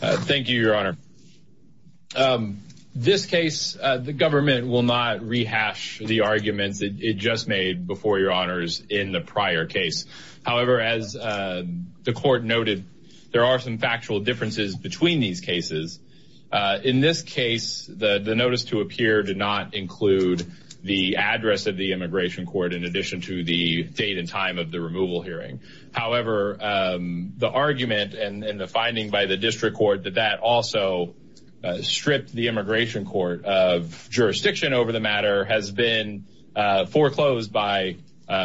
Thank you, your honor. This case, the government will not rehash the arguments it just made before your honors in the prior case. However, as the court noted, there are some factual differences between these cases. In this case, the notice to appear did not include the address of the immigration court in addition to the date and time of the removal hearing. However, the argument and the finding by the district court that that also stripped the immigration court of jurisdiction over the matter has been foreclosed by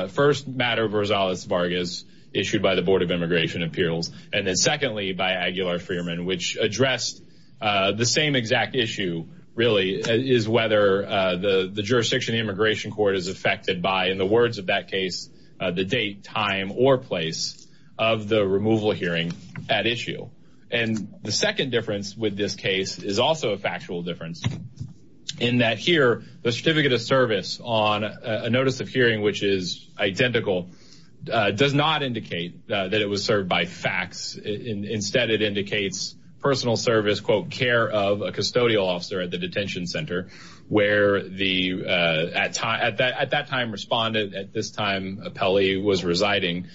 first matter of Rosales Vargas issued by the Board of Immigration Appeals, and then secondly, by Aguilar Freeman, which addressed the same exact issue, really, is whether the jurisdiction immigration court is affected by, in the words of that case, the date, time, or place of the removal hearing at issue. And the second difference with this case is also a factual difference in that here, the certificate of service on a notice of hearing, which is identical, does not indicate that it was served by fax. Instead, it indicates personal service, quote, care of a custodial officer at the detention center, where the, at that time, respondent, at this time, Apelli, was residing.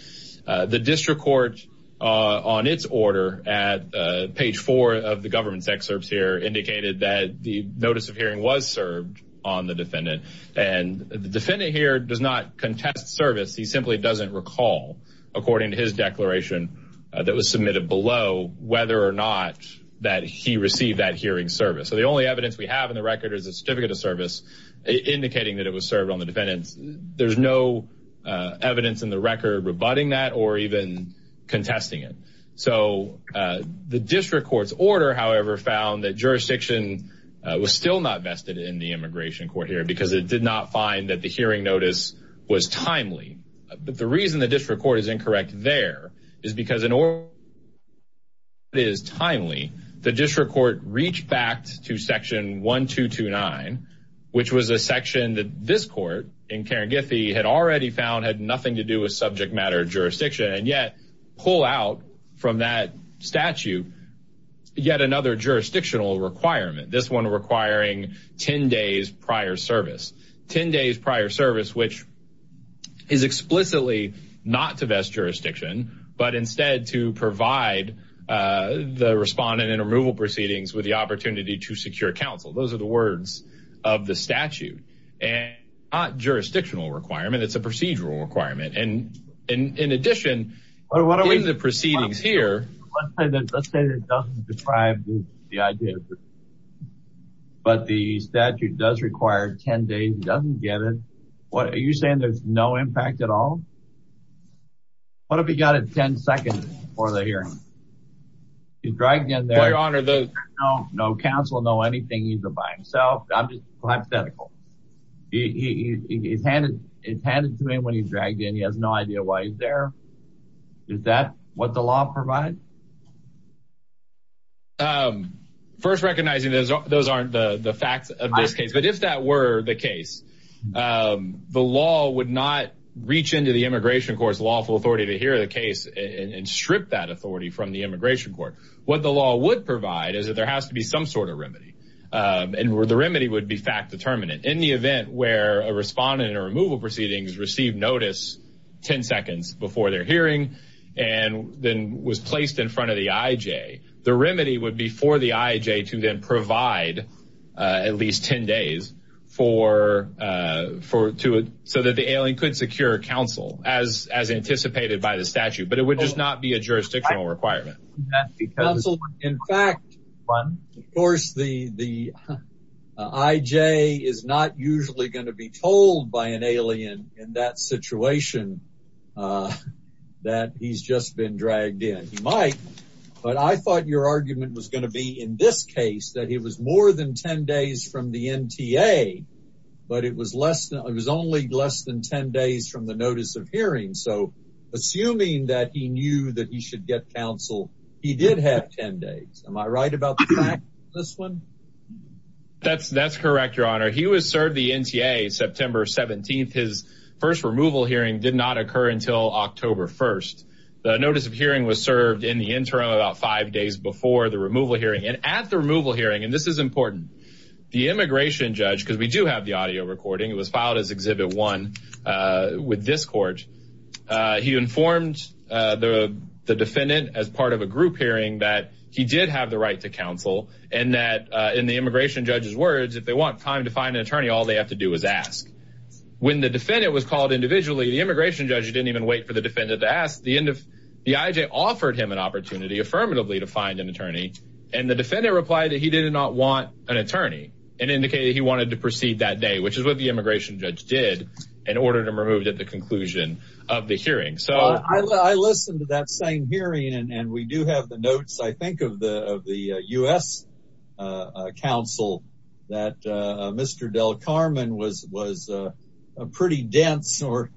The district court, on its order at page four of the government's excerpts here, indicated that the notice of hearing was served on the defendant, and the defendant here does not contest service. He simply doesn't recall, according to his declaration that was submitted below, whether or not that he received that hearing service. So, the only evidence we have in the record is a certificate of service indicating that it was served on the defendant. There's no evidence in the record rebutting that or even contesting it. So, the district court's order, however, found that jurisdiction was still not vested in the immigration court here, because it did not find that the hearing notice was timely. But the reason the district court is incorrect there is because in order that it is timely, the district court reached back to section 1229, which was a section that this court, in Karen Giffey, had already found had nothing to do with subject matter jurisdiction, and yet pull out from that statute yet another jurisdictional requirement, this one requiring 10 days prior service. 10 days prior service, which is explicitly not to vest jurisdiction, but instead to provide the respondent in removal proceedings with the opportunity to secure counsel. Those are the words of the statute, and not jurisdictional requirement, it's a procedural requirement. And in addition, in the proceedings here... Let's say it doesn't describe the idea, but the statute does require 10 days, he doesn't get it. What, are you saying there's no impact at all? What if he got it 10 seconds before the hearing? He's dragged in there, no counsel, no anything, either by himself. I'm just hypothetical. He's handed to me when he's dragged in, he has no idea why he's there. Is that what the law provides? First, recognizing those aren't the facts of this case, but if that were the case, the law would not reach into the immigration court's lawful authority to hear the case and strip that authority from the immigration court. What the law would provide is that there has to be some sort of remedy, and where the remedy would be fact-determinant. In the event where a respondent in a removal proceedings received notice 10 seconds before their hearing, and then was placed in front of the IJ, the remedy would be for the IJ to then provide at least 10 days so that the alien could secure counsel, as anticipated by the statute. But it would just not be a jurisdictional requirement. Counsel, in fact, of course, the IJ is not usually going to be told by an alien in that situation that he's just been dragged in. He might, but I thought your argument was going to be, in this case, that it was more than 10 days from the NTA, but it was only less than 10 days from the notice of hearing. So assuming that he knew that he should get counsel, he did have 10 days. Am I right about this one? That's correct, your honor. He was served the NTA September 17th. His first removal hearing did not occur until October 1st. The notice of hearing was served in the interim about five days before the removal hearing. And at the removal hearing, and this is important, the immigration judge, because we do have the audio recording, it was filed as Exhibit 1 with this court, he informed the defendant as part of a group hearing that he did have the right to counsel, and that in the immigration judge's time to find an attorney, all they have to do is ask. When the defendant was called individually, the immigration judge didn't even wait for the defendant to ask. The IJ offered him an opportunity affirmatively to find an attorney, and the defendant replied that he did not want an attorney and indicated he wanted to proceed that day, which is what the immigration judge did in order to remove him at the conclusion of the hearing. I listened to that same hearing, and we do have notes, I think, of the U.S. counsel that Mr. Del Carmen was pretty dense or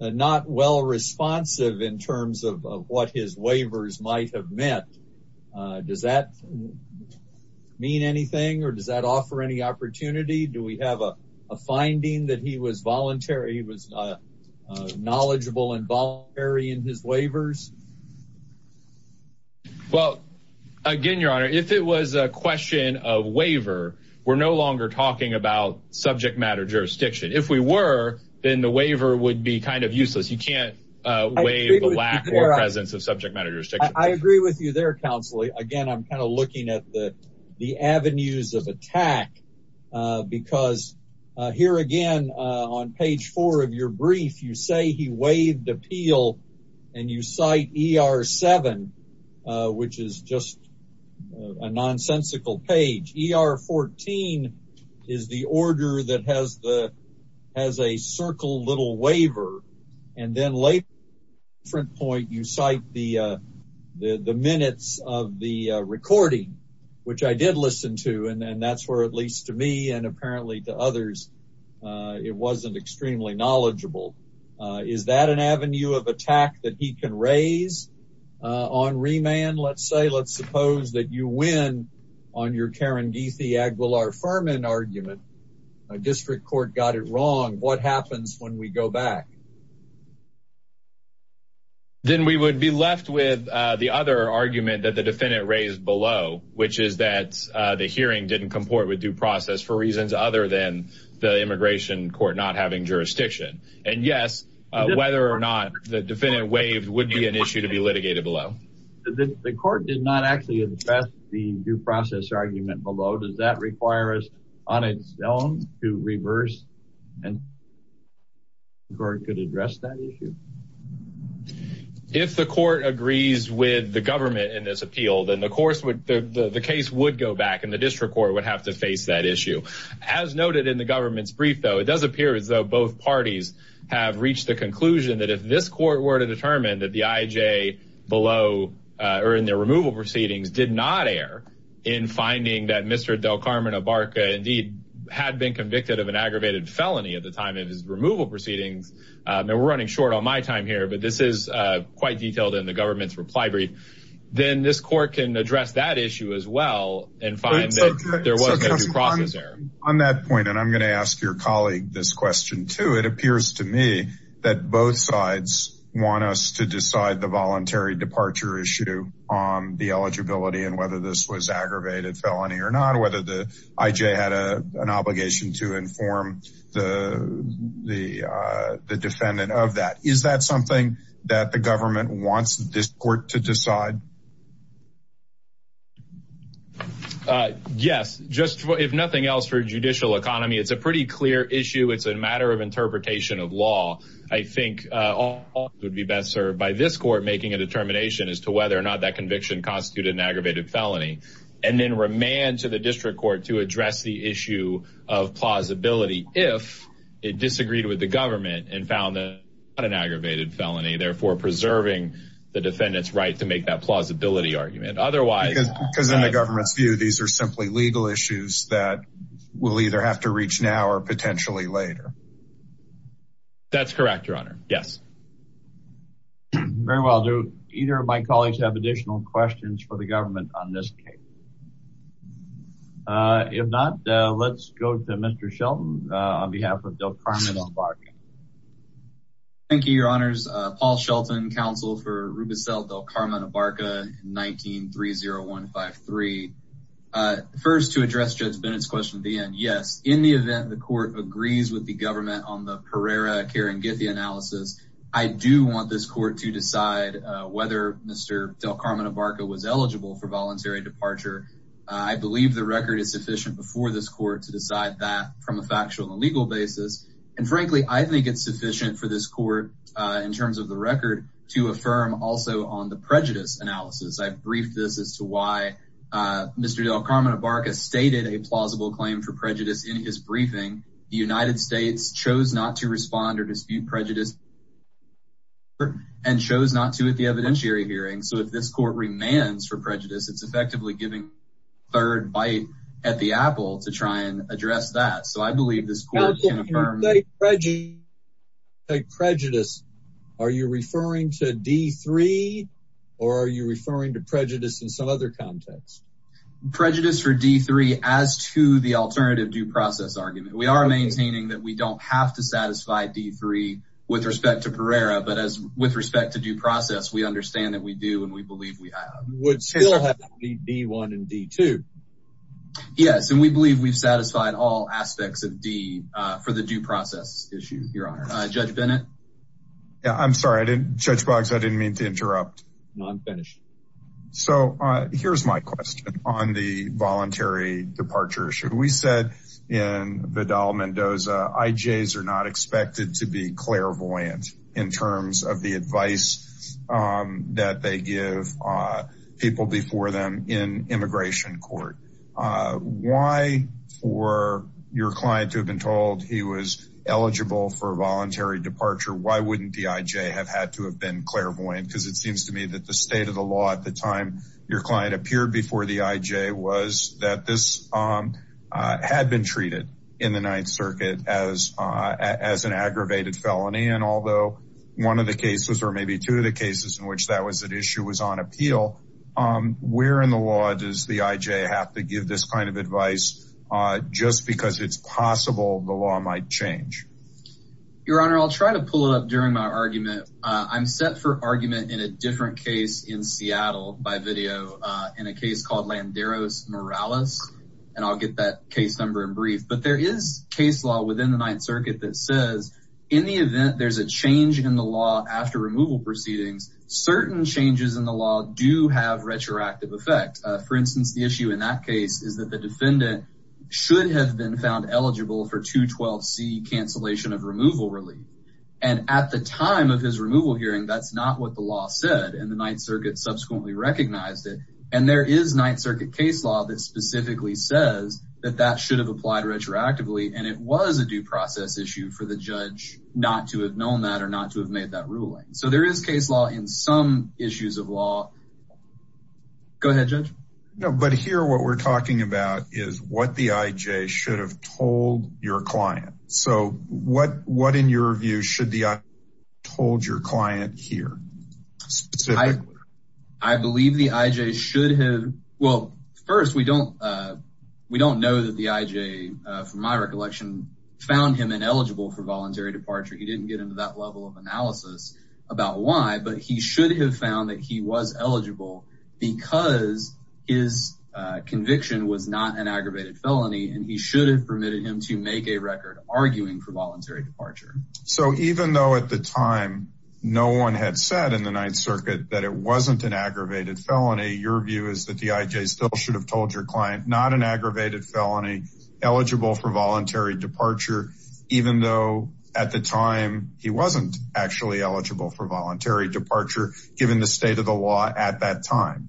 not well responsive in terms of what his waivers might have meant. Does that mean anything, or does that offer any opportunity? Do we have a finding that he was voluntary, he was knowledgeable and voluntary in his waivers? Well, again, your honor, if it was a question of waiver, we're no longer talking about subject matter jurisdiction. If we were, then the waiver would be kind of useless. You can't waive the lack or presence of subject matter jurisdiction. I agree with you there, counsel. Again, I'm kind of looking at the avenues of attack, because here again, on page four of your brief, you say he waived appeal, and you cite ER7, which is just a nonsensical page. ER14 is the order that has a circle little waiver, and then later at a different point, you cite the minutes of the recording, which I did listen to, and that's where, at least to me and apparently to others, it wasn't extremely knowledgeable. Is that an avenue of attack that he can raise on remand? Let's say, let's suppose that you win on your Karen Geethy-Aguilar-Furman argument, a district court got it wrong. What happens when we go back? Then we would be left with the other argument that the defendant raised below, which is that the hearing didn't comport with due process for reasons other than the immigration court not having jurisdiction, and yes, whether or not the defendant waived would be an issue to be litigated below. The court did not actually address the due process argument below. Does that require us on its own to reverse and the court could address that issue? If the court agrees with the government in this appeal, then the case would go back and the district court would have to face that issue. As noted in the government's brief, though, it does appear as though both parties have reached the conclusion that if this court were to determine that the IJ below or in their removal proceedings did not err in finding that Mr. Del Carmen Abarca indeed had been convicted of an aggravated felony at the time of his removal proceedings, and we're running short on my time here, but this is quite detailed in the government's reply brief, then this court can address that issue as well and find that there was no due process error. On that point, and I'm going to ask your colleague this question too, it appears to me that both sides want us to decide the voluntary departure issue on the eligibility and whether was aggravated felony or not, whether the IJ had an obligation to inform the defendant of that. Is that something that the government wants this court to decide? Yes, just if nothing else for judicial economy, it's a pretty clear issue. It's a matter of interpretation of law. I think all would be best served by this court making a determination as whether or not that conviction constituted an aggravated felony and then remand to the district court to address the issue of plausibility if it disagreed with the government and found that not an aggravated felony, therefore preserving the defendant's right to make that plausibility argument. Because in the government's view, these are simply legal issues that we'll either have to reach now or potentially later. That's correct, your honor. Yes. Very well, do either of my colleagues have additional questions for the government on this case? If not, let's go to Mr. Shelton on behalf of Del Carmen Abarca. Thank you, your honors. Paul Shelton, counsel for Rubicel Del Carmen Abarca, 19-30153. First to address Judge Bennett's question at the end. Yes, in the event the court agrees with the government on the Pereira-Keringithia analysis, I do want this court to decide whether Mr. Del Carmen Abarca was eligible for voluntary departure. I believe the record is sufficient before this court to decide that from a factual and legal basis. And frankly, I think it's sufficient for this court in terms of the record to affirm also on the prejudice analysis. I've briefed this as to why Mr. Del Carmen Abarca stated a plausible claim for prejudice in his briefing. The United States chose not to respond or dispute prejudice and chose not to at the evidentiary hearing. So if this court remands for prejudice, it's effectively giving a third bite at the apple to try and address that. So I believe this court can affirm prejudice. Are you referring to D3 or are you referring to prejudice in some other context? Prejudice for D3 as to the alternative due process argument. We are maintaining that we don't have to satisfy D3 with respect to Pereira, but as with respect to due process, we understand that we do and we believe we have. Would still have to be D1 and D2. Yes, and we believe we've satisfied all aspects of D for the due process issue, Your Honor. Judge Bennett. Yeah, I'm sorry, Judge Boggs, I didn't mean to interrupt. No, I'm finished. So here's my question on the voluntary departure issue. We said in Vidal-Mendoza, IJs are not expected to be clairvoyant in terms of the advice that they give people before them in immigration court. Why for your client to have told he was eligible for voluntary departure, why wouldn't the IJ have had to have been clairvoyant? Because it seems to me that the state of the law at the time your client appeared before the IJ was that this had been treated in the Ninth Circuit as an aggravated felony. And although one of the cases or maybe two of the cases in which that was at issue was on appeal, where in the law does the IJ have to give this kind of advice just because it's possible the law might change? Your Honor, I'll try to pull it up during my argument. I'm set for argument in a different case in Seattle by video in a case called Landeros-Morales, and I'll get that case number in brief. But there is case law within the Ninth Circuit that says in the event there's a change in the law after removal proceedings, certain changes in the law do have retroactive effect. For instance, the issue in that case is that the defendant should have been found eligible for 212C cancellation of removal relief. And at the time of his removal hearing, that's not what the law said, and the Ninth Circuit subsequently recognized it. And there is Ninth Circuit case law that specifically says that that should have applied retroactively, and it was a due process issue for the judge not to have known that or not to have made that ruling. So there is case law in some issues of law. Go ahead, Judge. No, but here what we're talking about is what the IJ should have told your client. So what in your view should the IJ have told your client here, specifically? I believe the IJ should have... Well, first, we don't know that the IJ, from my recollection, found him ineligible for voluntary departure. He didn't get into that level of analysis about why, but he should have found that he was eligible because his conviction was not an aggravated felony, and he should have permitted him to make a record arguing for voluntary departure. So even though at the time no one had said in the Ninth Circuit that it wasn't an aggravated felony, your view is that the IJ still should have told your client not an aggravated felony, eligible for voluntary departure, even though at the time he wasn't actually eligible for voluntary departure given the state of the law at that time?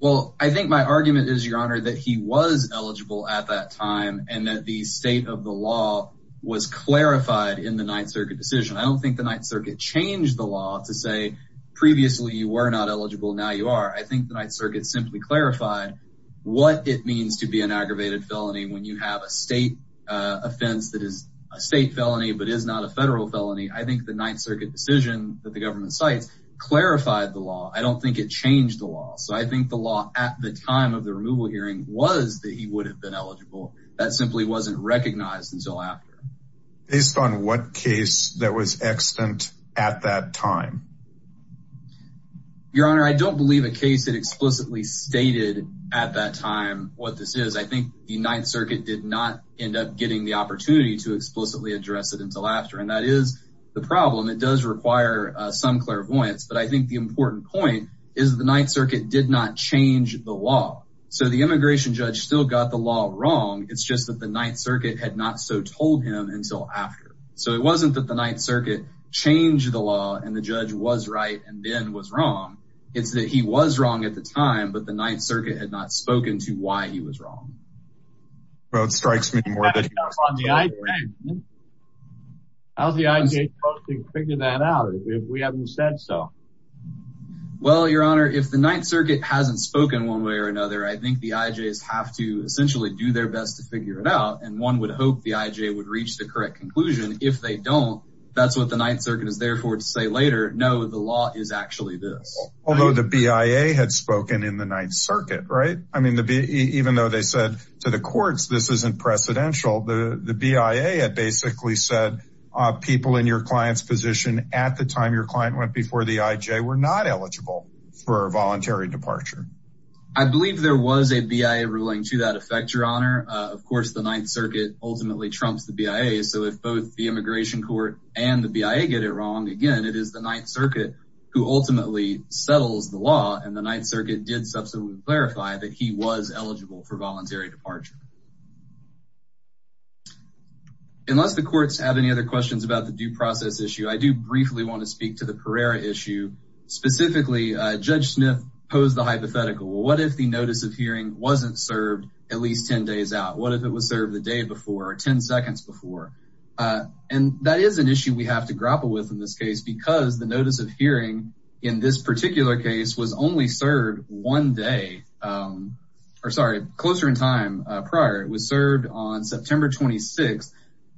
Well, I think my argument is, Your Honor, that he was eligible at that time and that the state of the law was clarified in the Ninth Circuit decision. I don't think the Ninth Circuit changed the law to say previously you were not eligible, now you are. I think the Ninth Circuit simply clarified what it means to be an aggravated felony when you have a state offense that is a state felony but is not a federal felony. I think the Ninth Circuit decision that the government cites clarified the law. I don't think it changed the law. So I think the law at the time of the removal hearing was that he would have been eligible. That simply wasn't recognized until after. Based on what case that was extant at that time? Your Honor, I don't believe a case had explicitly stated at that time what this is. I think the Ninth Circuit did not end up getting the opportunity to explicitly address it until after. And that is the problem. It does require some clairvoyance, but I think the important point is the Ninth Circuit did not change the law. So the immigration judge still got the law wrong. It's just that the Ninth Circuit had not so told him until after. So it wasn't that the judge was right and Ben was wrong. It's that he was wrong at the time, but the Ninth Circuit had not spoken to why he was wrong. Well, it strikes me more than... How's the IJ supposed to figure that out if we haven't said so? Well, Your Honor, if the Ninth Circuit hasn't spoken one way or another, I think the IJs have to essentially do their best to figure it out. And one would hope the IJ would reach the correct if they don't. That's what the Ninth Circuit is there for to say later. No, the law is actually this. Although the BIA had spoken in the Ninth Circuit, right? I mean, even though they said to the courts, this isn't precedential. The BIA had basically said people in your client's position at the time your client went before the IJ were not eligible for a voluntary departure. I believe there was a BIA ruling to that effect, Your Honor. Of course, the Ninth Circuit ultimately trumps the BIA. So if both the immigration court and the BIA get it wrong, again, it is the Ninth Circuit who ultimately settles the law. And the Ninth Circuit did subsequently clarify that he was eligible for voluntary departure. Unless the courts have any other questions about the due process issue, I do briefly want to speak to the Pereira issue. Specifically, Judge Smith posed the hypothetical. What if the notice of hearing was served the day before or 10 seconds before? And that is an issue we have to grapple with in this case because the notice of hearing in this particular case was only served one day, or sorry, closer in time prior. It was served on September 26th.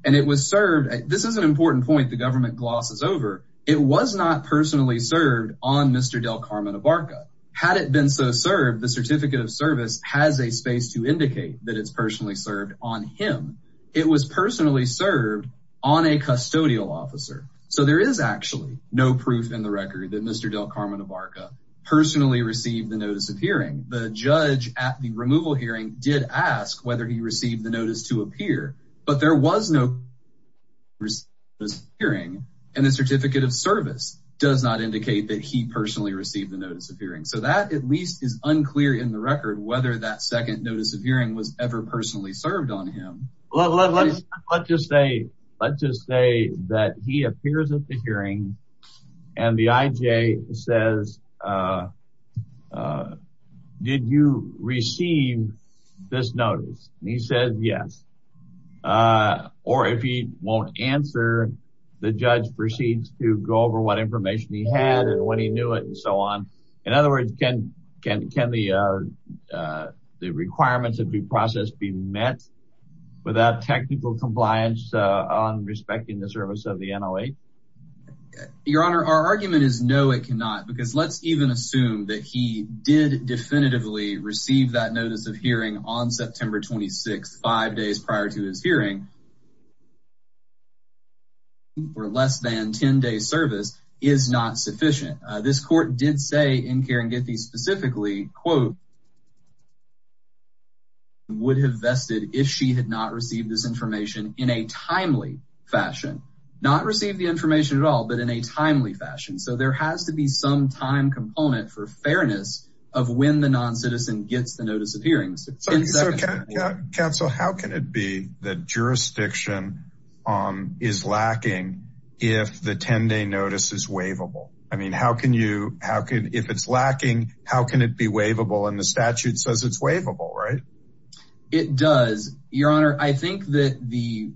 And it was served, this is an important point the government glosses over, it was not personally served on Mr. Del Carmen Ibarra. Had it been so served, the Certificate of Service has a space to indicate that it's personally served on him. It was personally served on a custodial officer. So there is actually no proof in the record that Mr. Del Carmen Ibarra personally received the notice of hearing. The judge at the removal hearing did ask whether he received the notice to appear, but there was no notice of hearing. And the Certificate of Service does not indicate that he personally received the notice of hearing. So that at least is unclear in the record whether that second notice of hearing was ever personally served on him. Well, let's just say that he appears at the hearing and the IJ says, did you receive this notice? And he says yes. Or if he won't answer, the judge proceeds to go over what information he had and when he knew it and so on. In other words, can the requirements of the process be met without technical compliance on respecting the service of the NOA? Your Honor, our argument is no, it cannot. Because let's even assume that he did definitively receive that notice of hearing on September 26th, five days prior to his hearing, or less than 10 days service is not sufficient. This court did say in Keringethi specifically, quote, would have vested if she had not received this information in a timely fashion, not receive the information at all, but in a timely fashion. So there has to be some time component for fairness of when the non-citizen gets the notice of hearings. So counsel, how can it be that jurisdiction is lacking if the 10 day notice is waivable? I mean, how can you, how can, if it's lacking, how can it be waivable and the statute says it's waivable, right? It does. Your Honor, I think that the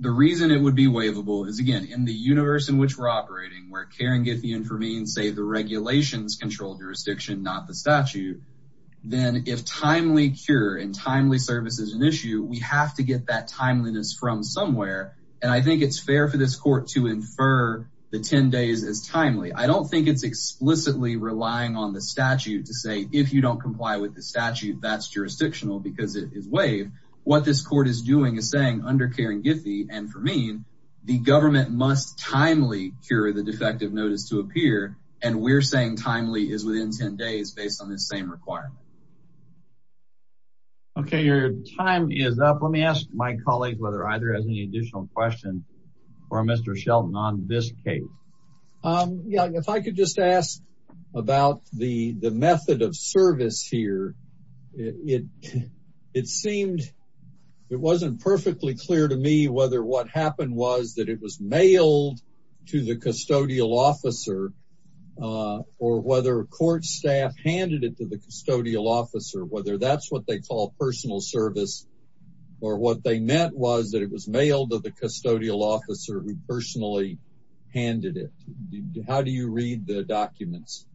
reason it would be waivable is again, in the universe in which we're operating, where Keringethi and Vermeen say the regulations control jurisdiction, not the statute, then if timely cure and timely service is an issue, we have to get that timeliness from somewhere. And I think it's fair for this court to infer the 10 days as timely. I don't think it's explicitly relying on the statute to say, if you don't comply with the statute, that's jurisdictional because it is waived. What this court is doing is saying under Keringethi and Vermeen, the government must timely cure the defective notice to appear. And we're saying timely is within 10 days based on this same requirement. Okay. Your time is up. Let me ask my colleagues, whether either has any additional questions for Mr. Shelton on this case. Yeah. If I could just ask about the method of service here, it seemed, it wasn't perfectly clear to me whether what happened was that it was mailed to the custodial officer or whether a court staff handed it to the custodial officer, whether that's what they call personal service, or what they meant was that it was mailed to the custodial officer who personally handed it. How do you read the documents?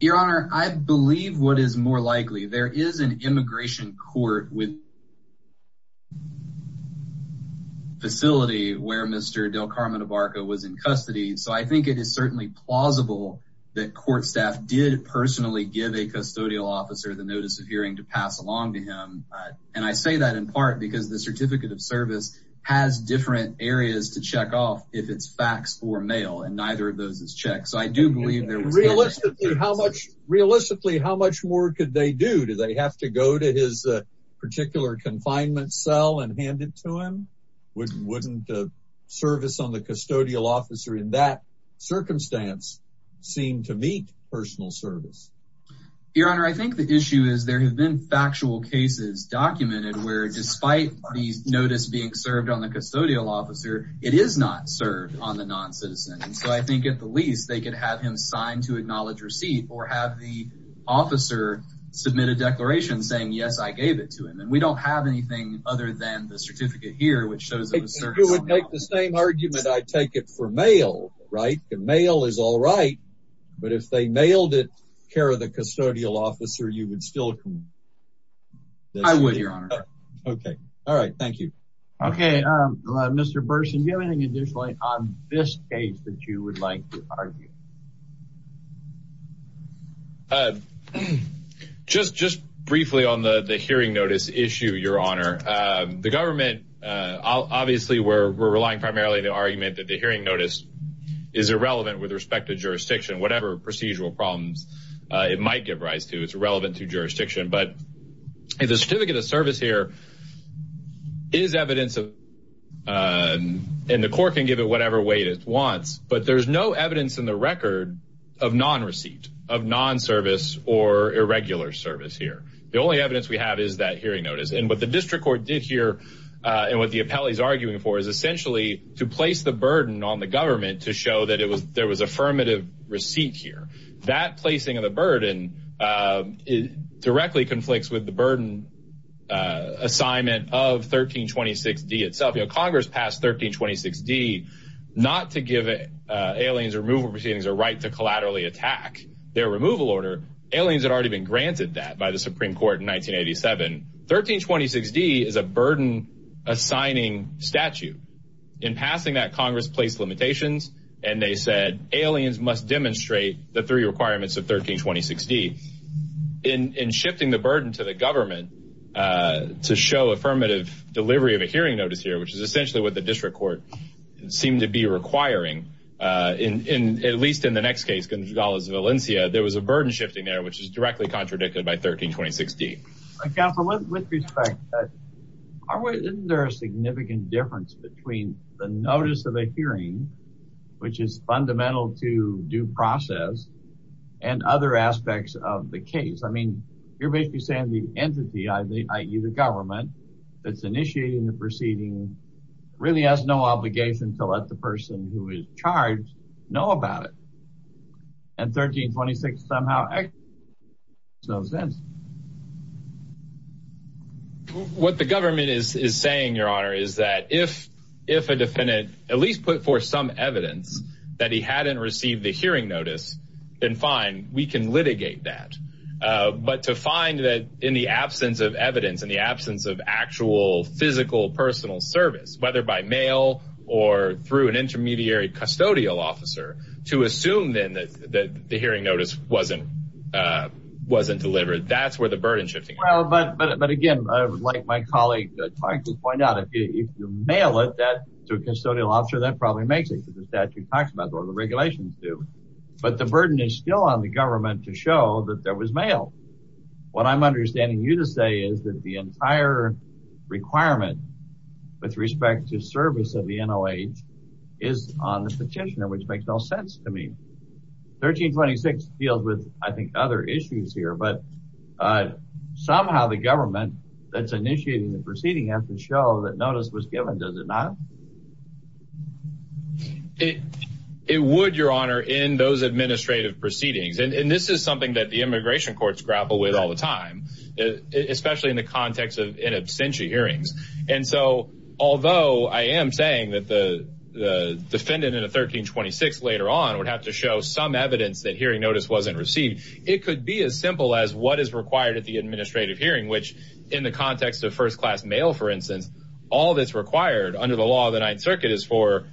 Your Honor, I believe what is more likely, there is an immigration court with a facility where Mr. Del Carmen Abarca was in custody. So I think it is certainly plausible that court staff did personally give a custodial officer the notice of hearing to pass along to him. And I say that in part because the certificate of service has different areas to check off if it's fax or mail, and neither of those is checked. So I do believe there was- Realistically, how much more could they do? Do they have to go to his particular confinement cell and hand it to him? Wouldn't service on the custodial officer in that circumstance seem to meet personal service? Your Honor, I think the issue is there have been factual cases documented where despite the notice being served on the custodial officer, it is not served on the or have the officer submit a declaration saying, yes, I gave it to him. And we don't have anything other than the certificate here, which shows- If you would make the same argument, I take it for mail, right? The mail is all right. But if they mailed it care of the custodial officer, you would still- I would, Your Honor. Okay. All right. Thank you. Okay. Mr. Burson, do you have anything additional on this case that you would like to argue? Just briefly on the hearing notice issue, Your Honor. The government- Obviously, we're relying primarily on the argument that the hearing notice is irrelevant with respect to jurisdiction. Whatever procedural problems it might give rise to, it's irrelevant to jurisdiction. But the certificate of service here is evidence of- And the court can give it whatever way it wants, but there's no evidence in the court of non-service or irregular service here. The only evidence we have is that hearing notice. And what the district court did here and what the appellee is arguing for is essentially to place the burden on the government to show that there was affirmative receipt here. That placing of the burden directly conflicts with the burden assignment of 1326D itself. Congress passed 1326D not to give aliens removal proceedings a right to collaterally attack. Removal order, aliens had already been granted that by the Supreme Court in 1987. 1326D is a burden assigning statute. In passing that, Congress placed limitations and they said aliens must demonstrate the three requirements of 1326D. In shifting the burden to the government to show affirmative delivery of a hearing notice here, which is essentially what the district court seemed to be requiring, at least in the next case, Valencia, there was a burden shifting there, which is directly contradicted by 1326D. With respect, isn't there a significant difference between the notice of a hearing, which is fundamental to due process, and other aspects of the case? I mean, you're basically saying the entity, i.e. the government, that's initiating the proceeding really has no obligation to let the person who is charged know about it. And 1326D somehow makes no sense. What the government is saying, Your Honor, is that if a defendant at least put forth some evidence that he hadn't received the hearing notice, then fine, we can litigate that. But to find that in the absence of evidence, in the absence of actual physical personal service, whether by mail or through an intermediary custodial officer, to assume then that the hearing notice wasn't delivered, that's where the burden shifting is. But again, I would like my colleague to point out, if you mail it to a custodial officer, that probably makes it because the statute talks about it, or the regulations do. But the burden is still on the government to show that there was mail. What I'm understanding you to say is that the entire requirement with respect to service of the NOH is on the petitioner, which makes no sense to me. 1326 deals with, I think, other issues here, but somehow the government that's initiating the proceeding has to show that notice was given, does it not? It would, Your Honor, in those administrative proceedings. And this is something that the immigration courts grapple with all the time, especially in the context of in absentia hearings. And so, although I am saying that the defendant in a 1326 later on would have to show some evidence that hearing notice wasn't received, it could be as simple as what is required at the administrative hearing, which in the context of first class mail, for instance, all that's required under the law of the Ninth Circuit is for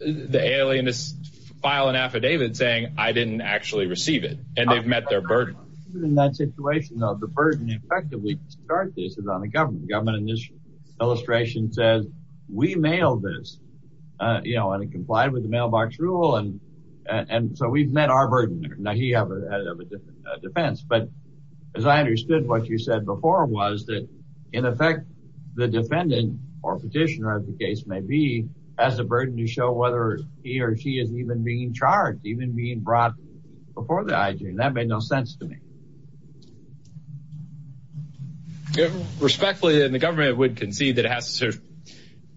the alien to file an affidavit saying, I didn't actually receive it, and they've met their burden. In that situation, though, the burden, effectively, to start this is on the government. The government in this illustration says, we mailed this, and it complied with the mailbox rule, and so we've met our burden. Now, he has a different defense. But as I understood what you said before was that, in effect, the defendant or petitioner, as the case may be, has a burden to show whether he or she is even being charged, even being brought before the IG. And that made no sense to me. Respectfully, the government would concede that it has to show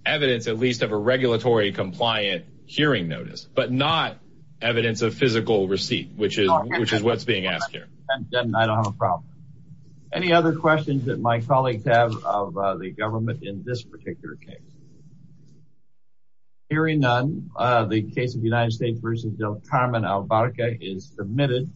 evidence at least of a regulatory compliant hearing notice, but not evidence of physical receipt, which is what's being asked here. I don't have a problem. Any other questions that my colleagues have of the government in this particular case? Hearing none, the case of United States v. Del Carmen Albarca is submitted.